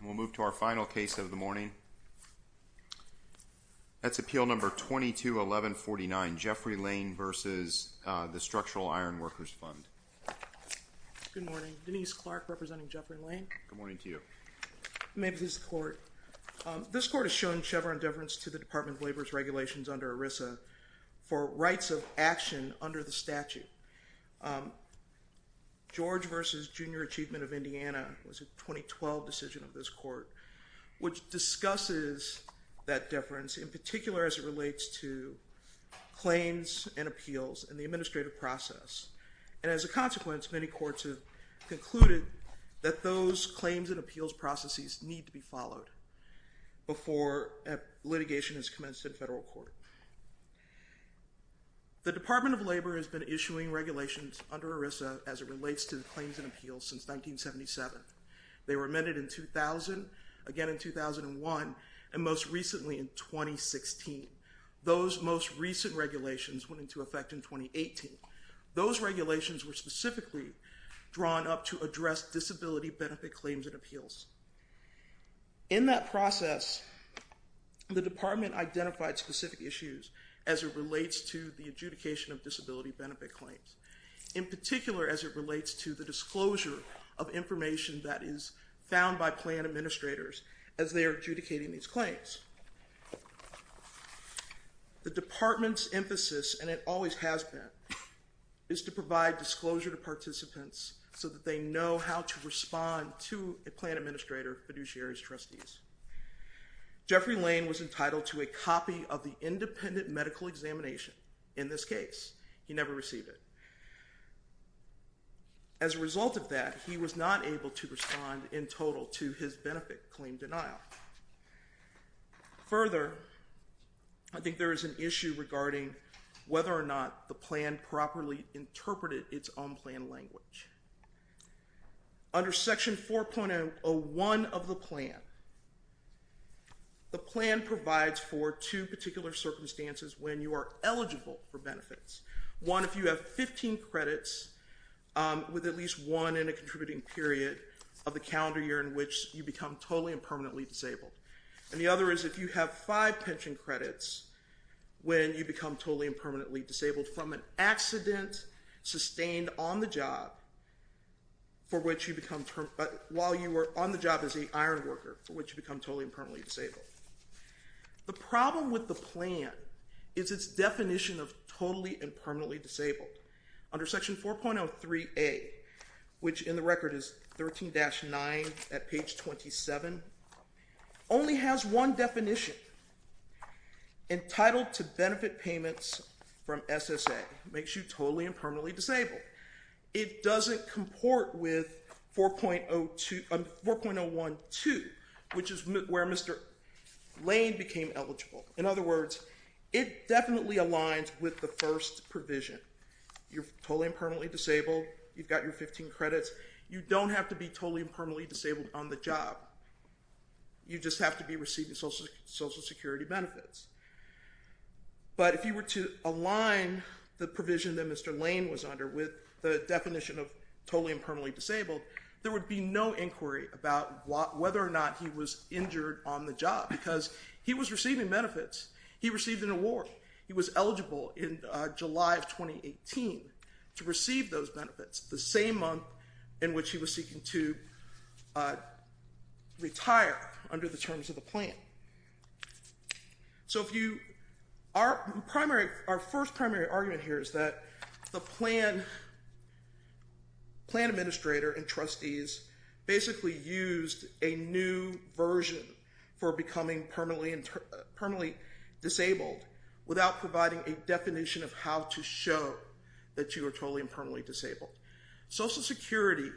We'll move to our final case of the morning. That's Appeal Number 22-1149, Jeffrey Lane v. Structural Iron Workers Fund. Good morning. Denise Clark, representing Jeffrey Lane. Good morning to you. May I please have the floor? This court has shown Chevron deference to the Department of Labor's regulations under ERISA for rights of action under the statute. George v. Junior Achievement of Indiana was a 2012 decision of this court, which discusses that deference, in particular as it relates to claims and appeals and the administrative process. And as a consequence, many courts have concluded that those claims and appeals processes need to be followed before litigation is commenced in federal court. The Department of Labor has been issuing regulations under ERISA as it relates to the claims and appeals since 1977. They were amended in 2000, again in 2001, and most recently in 2016. Those most recent regulations went into effect in 2018. Those regulations were specifically drawn up to address disability benefit claims and appeals. In that process, the department identified specific issues as it relates to the adjudication of disability benefit claims, in particular as it relates to the disclosure of information that is found by plan administrators as they are adjudicating these claims. The department's emphasis, and it always has been, is to provide disclosure to participants so that they know how to respond to a plan administrator, fiduciaries, trustees. Jeffrey Lane was entitled to a copy of the independent medical examination. In this case, he never received it. As a result of that, he was not able to respond in total to his benefit claim denial. Further, I think there is an issue regarding whether or not the plan properly interpreted its own plan language. Under section 4.01 of the plan, the plan provides for two particular circumstances when you are eligible for benefits. One, if you have 15 credits with at least one in a contributing period of the calendar year in which you become totally and permanently disabled. And the other is if you have five pension credits when you become totally and permanently disabled from an accident sustained on the job for which you become, but while you were on the job as an iron worker, for which you become totally and permanently disabled. The problem with the plan is its definition of totally and permanently disabled. Under section 4.03a, which in the record is 13-9 at page 27, only has one definition. Entitled to benefit payments from SSA makes you totally and permanently disabled. It doesn't comport with 4.02, 4.012, which is where Mr. Lane became eligible. In other words, it definitely aligns with the first provision. You're totally and permanently disabled. You've got your 15 credits. You don't have to be totally and permanently disabled on the job. You just have to be receiving Social Security benefits. But if you were to align the provision that Mr. Lane was under with the definition of totally and permanently disabled, there would be no inquiry about whether or not he was injured on the job, because he was receiving benefits. He received an award. He was eligible in July of 2018 to receive those benefits the same month in which he was seeking to retire under the terms of the plan. So if you are primary, our first primary argument here is that the plan administrator and trustees basically used a new version for becoming permanently disabled without providing a definition of how to show that you are totally and permanently disabled. Social Security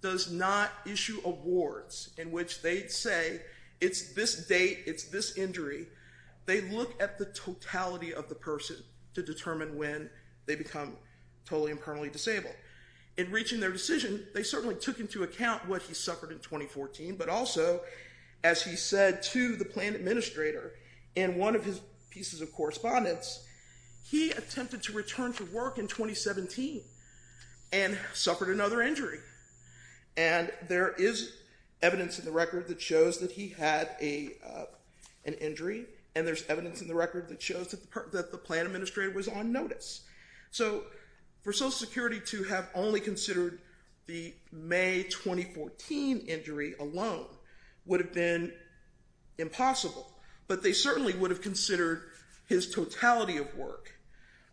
does not issue awards in which they'd say it's this date, it's this injury. They look at the totality of the person to determine when they become totally and permanently disabled. In reaching their decision, they certainly took into account what he suffered in 2014, but also as he said to the plan administrator in one of his pieces of correspondence, he attempted to return to work in 2017. And suffered another injury. And there is evidence in the record that shows that he had an injury, and there's evidence in the record that shows that the plan administrator was on notice. So for Social Security to have only considered the May 2014 injury alone would have been impossible, but they certainly would have considered his totality of work.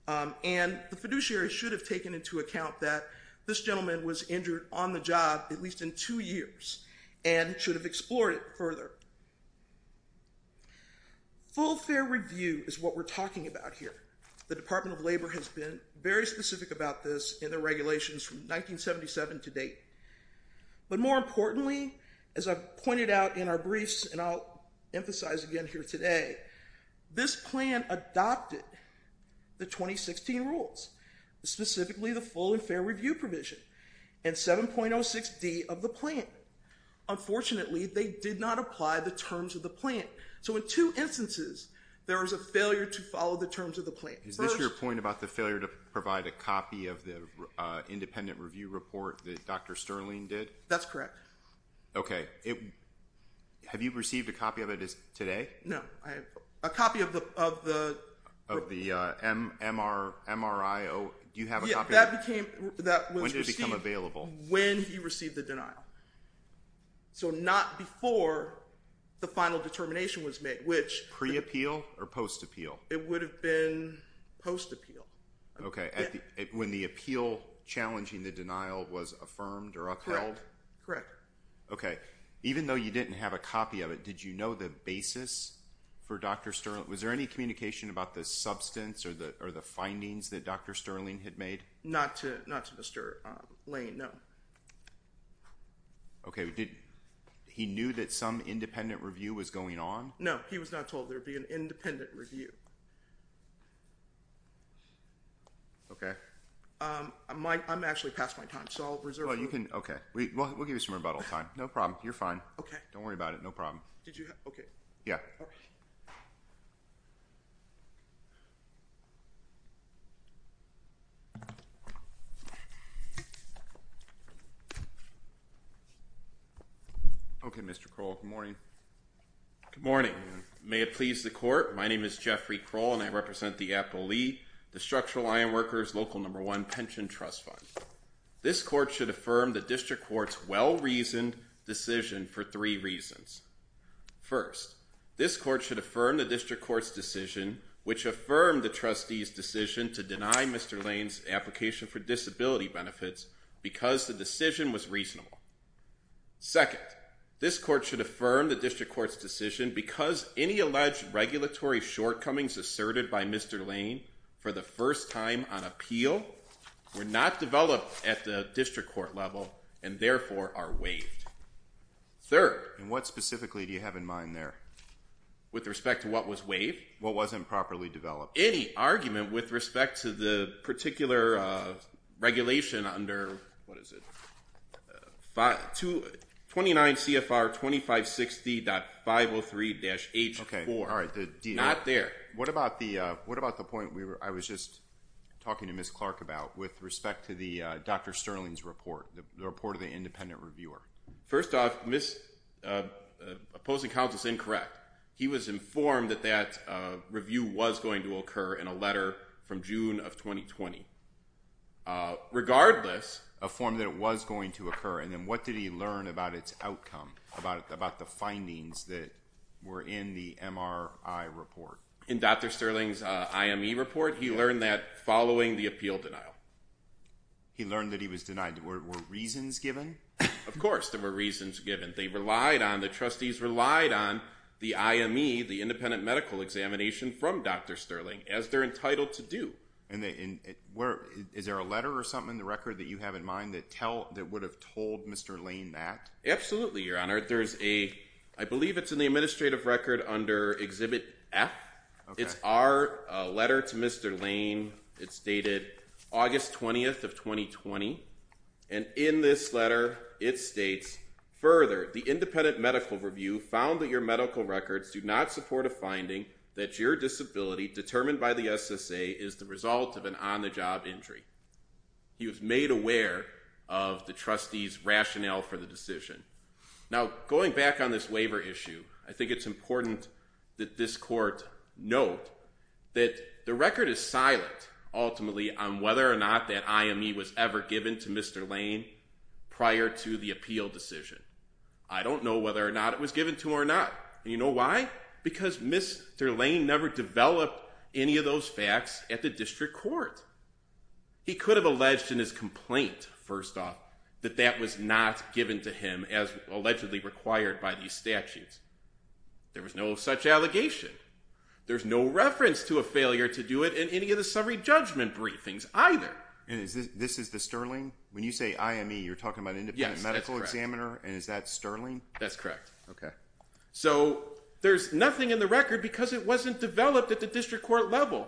And the fiduciary should have taken into account that this gentleman was injured on the job at least in two years, and should have explored it further. Full fair review is what we're talking about here. The Department of Labor has been very specific about this in their regulations from 1977 to date. But more importantly, as I've pointed out in our briefs, and I'll emphasize again here today, this plan adopted the 2016 rules, specifically the full and fair review provision. And 7.06D of the plan. Unfortunately, they did not apply the terms of the plan. So in two instances, there was a failure to follow the terms of the plan. First. Is this your point about the failure to provide a copy of the independent review report that Dr. Sterling did? That's correct. Okay. Have you received a copy of it today? No. I have a copy of the... Of the MRI, do you have a copy of it? Yeah. That became... When did it become available? When he received the denial. So not before the final determination was made, which... Pre-appeal or post-appeal? It would have been post-appeal. Okay. When the appeal challenging the denial was affirmed or upheld? Correct. Okay. Even though you didn't have a copy of it, did you know the basis for Dr. Sterling... Was there any communication about the substance or the findings that Dr. Sterling had made? Not to Mr. Lane, no. Okay. He knew that some independent review was going on? No. He was not told there would be an independent review. Okay. I'm actually past my time, so I'll reserve... Well, you can... Okay. We'll give you some rebuttal time. No problem. You're fine. Okay. Don't worry about it. No problem. Did you have... Okay. Yeah. Okay, Mr. Kroll, good morning. Good morning. May it please the court. My name is Jeffrey Kroll, and I represent the Apple Lee, the Structural Ironworkers Local No. 1 Pension Trust Fund. This court should affirm the district court's well-reasoned decision for three reasons. First, this court should affirm the district court's decision, which affirmed the trustee's decision to deny Mr. Lane's application for disability benefits because the decision was reasonable. Second, this court should affirm the district court's decision because any alleged regulatory shortcomings asserted by Mr. Lane for the first time on appeal were not developed at the district court level and therefore are waived. Third... And what specifically do you have in mind there? With respect to what was waived? What wasn't properly developed? Any argument with respect to the particular regulation under... What is it? 29 CFR 2560.503-H4. Okay. All right. The deal... Not there. What about the point I was just talking to Ms. Clark about with respect to Dr. Sterling's report, the report of the independent reviewer? First off, opposing counsel is incorrect. He was informed that that review was going to occur in a letter from June of 2020. Regardless, a form that it was going to occur, and then what did he learn about its outcome, about the findings that were in the MRI report? In Dr. Sterling's IME report, he learned that following the appeal denial. He learned that he was denied. Were reasons given? Of course, there were reasons given. They relied on... The trustees relied on the IME, the independent medical examination from Dr. Sterling, as they're entitled to do. And is there a letter or something in the record that you have in mind that would have told Mr. Lane that? Absolutely, Your Honor. There's a... I believe it's in the administrative record under Exhibit F. It's our letter to Mr. Lane. It's dated August 20th of 2020. And in this letter, it states, further, the independent medical review found that your medical records do not support a finding that your disability, determined by the SSA, is the result of an on-the-job injury. He was made aware of the trustees' rationale for the decision. Now, going back on this waiver issue, I think it's important that this court note that the record is silent, ultimately, on whether or not that IME was ever given to Mr. Lane prior to the appeal decision. I don't know whether or not it was given to him or not. And you know why? Because Mr. Lane never developed any of those facts at the district court. He could have alleged in his complaint, first off, that that was not given to him as allegedly required by these statutes. There was no such allegation. There's no reference to a failure to do it in any of the summary judgment briefings, either. And this is the Sterling? When you say IME, you're talking about an independent medical examiner? And is that Sterling? That's correct. OK. So there's nothing in the record because it wasn't developed at the district court level.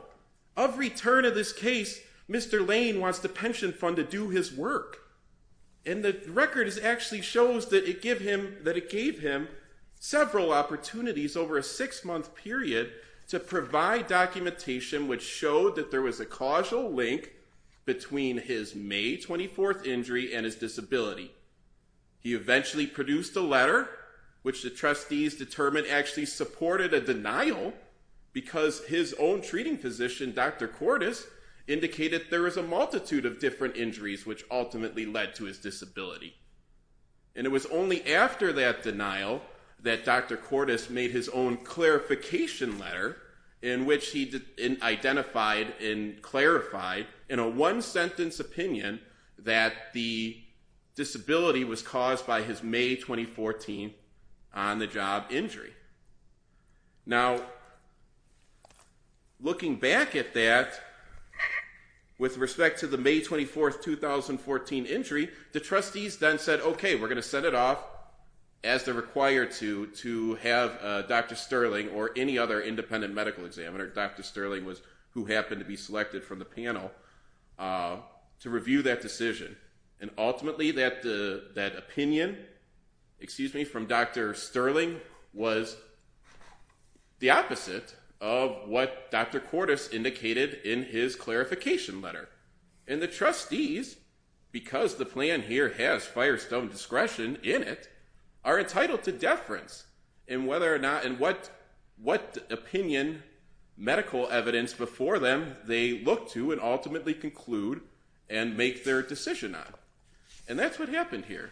Of return of this case, Mr. Lane wants the pension fund to do his work. And the record actually shows that it gave him several opportunities over a six month period to provide documentation, which showed that there was a causal link between his May 24th injury and his disability. He eventually produced a letter which the trustees determined actually supported a denial because his own treating physician, Dr. Cordes, indicated there was a multitude of different injuries which ultimately led to his disability. And it was only after that denial that Dr. Cordes made his own clarification letter in which he identified and clarified in a one sentence opinion that the disability was caused by his May 2014 on the job injury. Now, looking back at that with respect to the May 24th, 2014 injury, the trustees then said, OK, we're going to send it off as they're required to to have Dr. Sterling or any other independent medical examiner. Dr. Sterling was who happened to be selected from the panel to review that decision. And ultimately that that opinion, excuse me, from Dr. Sterling was the opposite of what Dr. Cordes indicated in his clarification letter. And the trustees, because the plan here has firestone discretion in it, are entitled to deference in whether or not and what what opinion medical evidence before them they look to and ultimately conclude and make their decision on. And that's what happened here.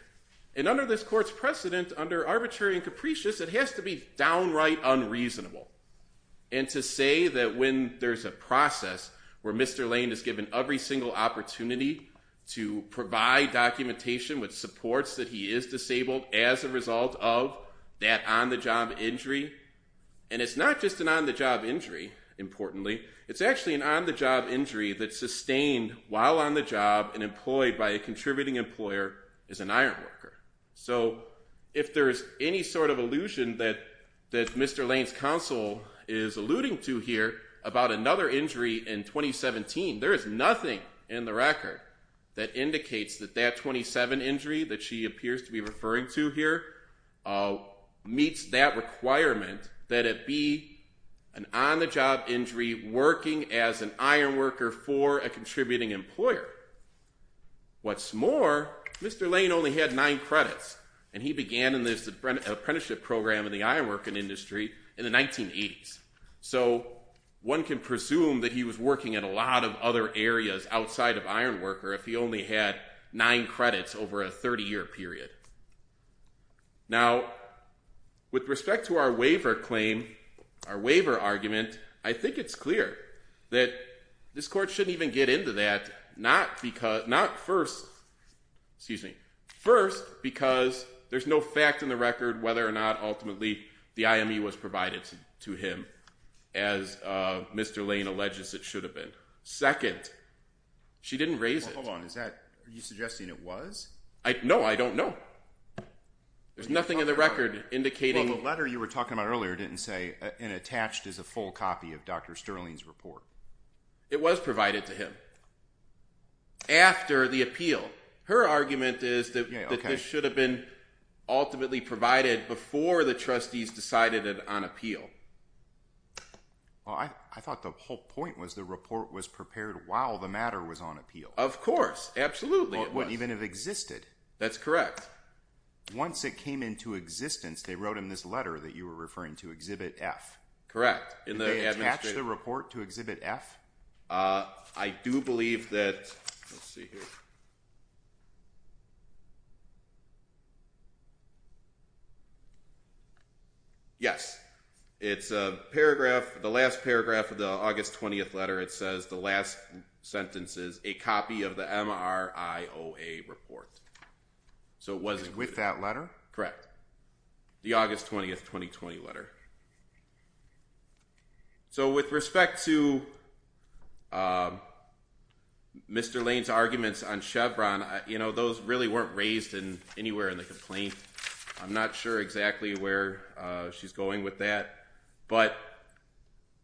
And under this court's precedent, under arbitrary and capricious, it has to be downright unreasonable. And to say that when there's a process where Mr. Lane is given every single opportunity to provide documentation with supports that he is disabled as a result of that on the job injury. And it's not just an on the job injury. Importantly, it's actually an on the job injury that's sustained while on the job and employed by a contributing employer is an iron worker. So if there is any sort of illusion that that Mr. Lane's counsel is alluding to here about another injury in 2017, there is nothing in the record that indicates that that 27 injury that she appears to be referring to here meets that requirement that it be an on the job injury working as an iron worker for a contributing employer. What's more, Mr. Lane only had nine credits and he began in this apprenticeship program in the iron working industry in the 1980s. So one can presume that he was working in a lot of other areas outside of iron worker if he only had nine credits over a 30 year period. Now, with respect to our waiver claim, our waiver argument, I think it's clear that this court shouldn't even get into that. Not because not first, excuse me, first, because there's no fact in the record whether or not ultimately the IME was provided to him. As Mr. Lane alleges, it should have been second. She didn't raise it. Hold on. Is that you suggesting it was? I know. I don't know. There's nothing in the record indicating the letter you were talking about earlier didn't say and attached is a full copy of Dr. Sterling's report. It was provided to him. After the appeal, her argument is that this should have been ultimately provided before the trustees decided it on appeal. Well, I thought the whole point was the report was prepared while the matter was on appeal. Of course. Absolutely. It wouldn't even have existed. That's correct. Once it came into existence, they wrote in this letter that you were referring to Exhibit F. Correct. And they attached the report to Exhibit F. I do believe that. Let's see here. Yes, it's a paragraph, the last paragraph of the August 20th letter, it says the last sentence is a copy of the M.R.I.O.A. report. So was it with that letter? Correct. The August 20th, 2020 letter. So with respect to Mr. Lane's arguments on Chevron, you know, those really weren't raised in anywhere in the complaint. I'm not sure exactly where she's going with that. But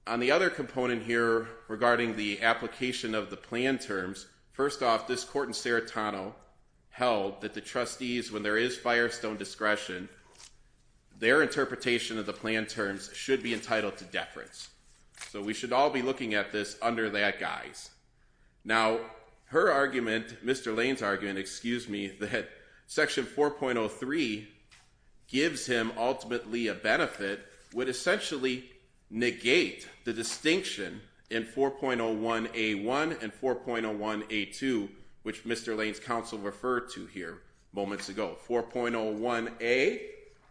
on the other component here regarding the application of the plan terms. First off, this court in Serratano held that the trustees, when there is Firestone discretion, their interpretation of the plan terms should be entitled to deference. So we should all be looking at this under that guise. Now, her argument, Mr. Lane's argument, excuse me, that Section 4.03 gives him ultimately a benefit would essentially negate the distinction in 4.01A1 and 4.01A2, which Mr. Lane's counsel referred to here moments ago. 4.01A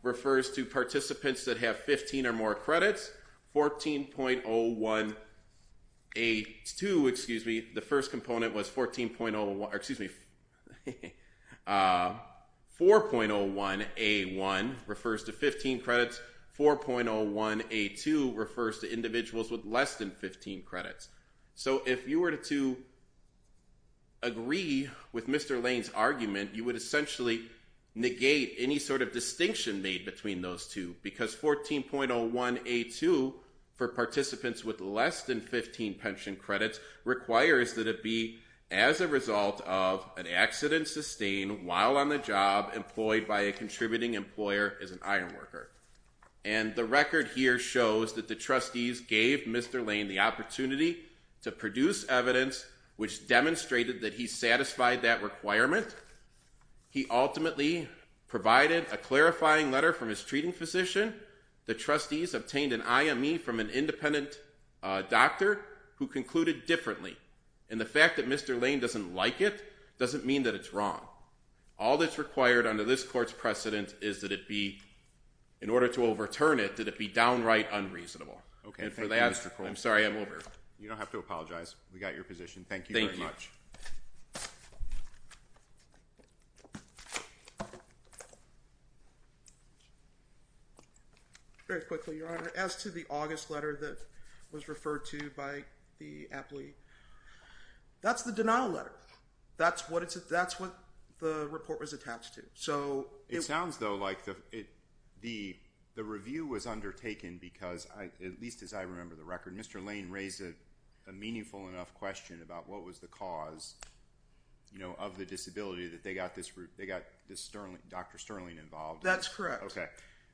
refers to participants that have 15 or more credits. 14.01A2, excuse me, the first component was 14.01, excuse me. 4.01A1 refers to 15 credits. 4.01A2 refers to individuals with less than 15 credits. So if you were to. Agree with Mr. Lane's argument, you would essentially negate any sort of distinction made between those two, because 14.01A2 for participants with less than 15 pension credits requires that it be as a result of an accident sustained while on the job employed by a contributing employer as an ironworker. And the record here shows that the trustees gave Mr. Lane the opportunity to produce evidence which demonstrated that he satisfied that requirement. He ultimately provided a clarifying letter from his treating physician. The trustees obtained an IME from an independent doctor who concluded differently. And the fact that Mr. Lane doesn't like it doesn't mean that it's wrong. All that's required under this court's precedent is that it be in order to overturn it, that it be downright unreasonable. OK. And for that, I'm sorry, I'm over. You don't have to apologize. We got your position. Thank you very much. Very quickly, your honor, as to the August letter that was referred to by the appellee. That's the denial letter. That's what it's that's what the report was attached to. So it sounds, though, like the it the the review was undertaken because I at least as I remember the record, Mr. Lane raised a meaningful enough question about what was the cause, you know, of the disability that they got this route. They got this Sterling, Dr. Sterling involved. That's correct. OK.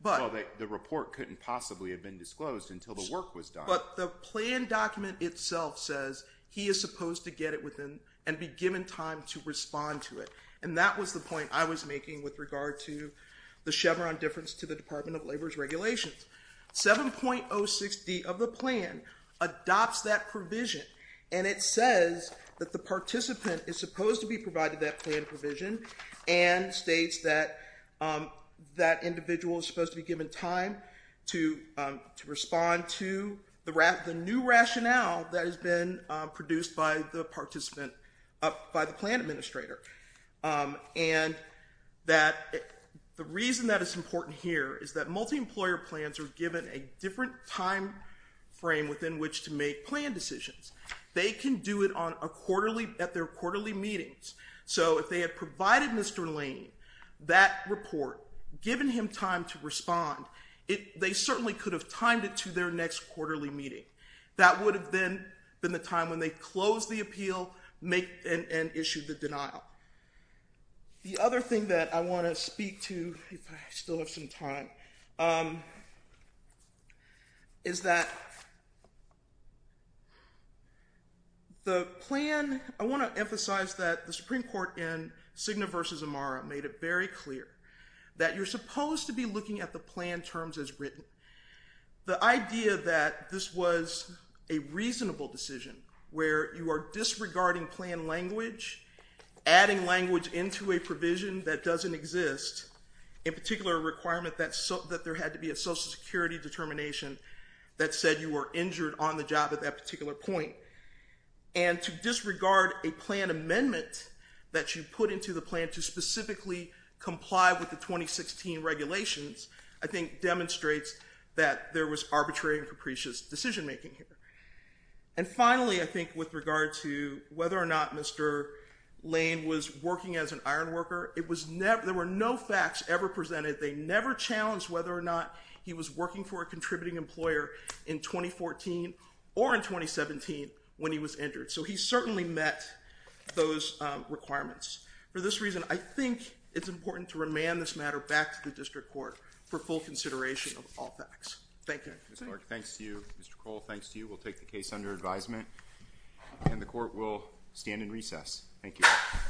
But the report couldn't possibly have been disclosed until the work was done. But the plan document itself says he is supposed to get it within and be given time to respond to it. And that was the point I was making with regard to the Chevron difference to the Department of Labor's regulations. 7.060 of the plan adopts that provision. And it says that the participant is supposed to be provided that plan provision and states that that individual is supposed to be given time to to respond to the wrath of the new rationale that has been produced by the participant up by the plan administrator and that the reason that is important here is that multi-employer plans are given a different time frame within which to make plan decisions. They can do it on a quarterly at their quarterly meetings. So if they had provided Mr. Lane that report, given him time to respond, it they certainly could have timed it to their next quarterly meeting. That would have been been the time when they closed the appeal make and issued the denial. The other thing that I want to speak to, if I still have some time. Is that. The plan, I want to emphasize that the Supreme Court in Cigna versus Amara made it very clear that you're supposed to be looking at the plan terms as written. The idea that this was a reasonable decision where you are disregarding plan language, adding language into a provision that doesn't exist, in particular, a requirement that that there had to be a Social Security determination that said you were injured on the job at that particular point. And to disregard a plan amendment that you put into the plan to specifically comply with the 2016 regulations, I think demonstrates that there was arbitrary and capricious decision making here. And finally, I think with regard to whether or not Mr. Lane was working as an ironworker, it was never there were no facts ever presented. They never challenged whether or not he was working for a contributing employer in 2014 or in 2017 when he was injured. So he certainly met those requirements. For this reason, I think it's important to remand this matter back to the district court for full consideration of all facts. Thank you, Mr. Clark. Thanks to you, Mr. Cole. Thanks to you. We'll take the case under advisement and the court will stand in recess. Thank you.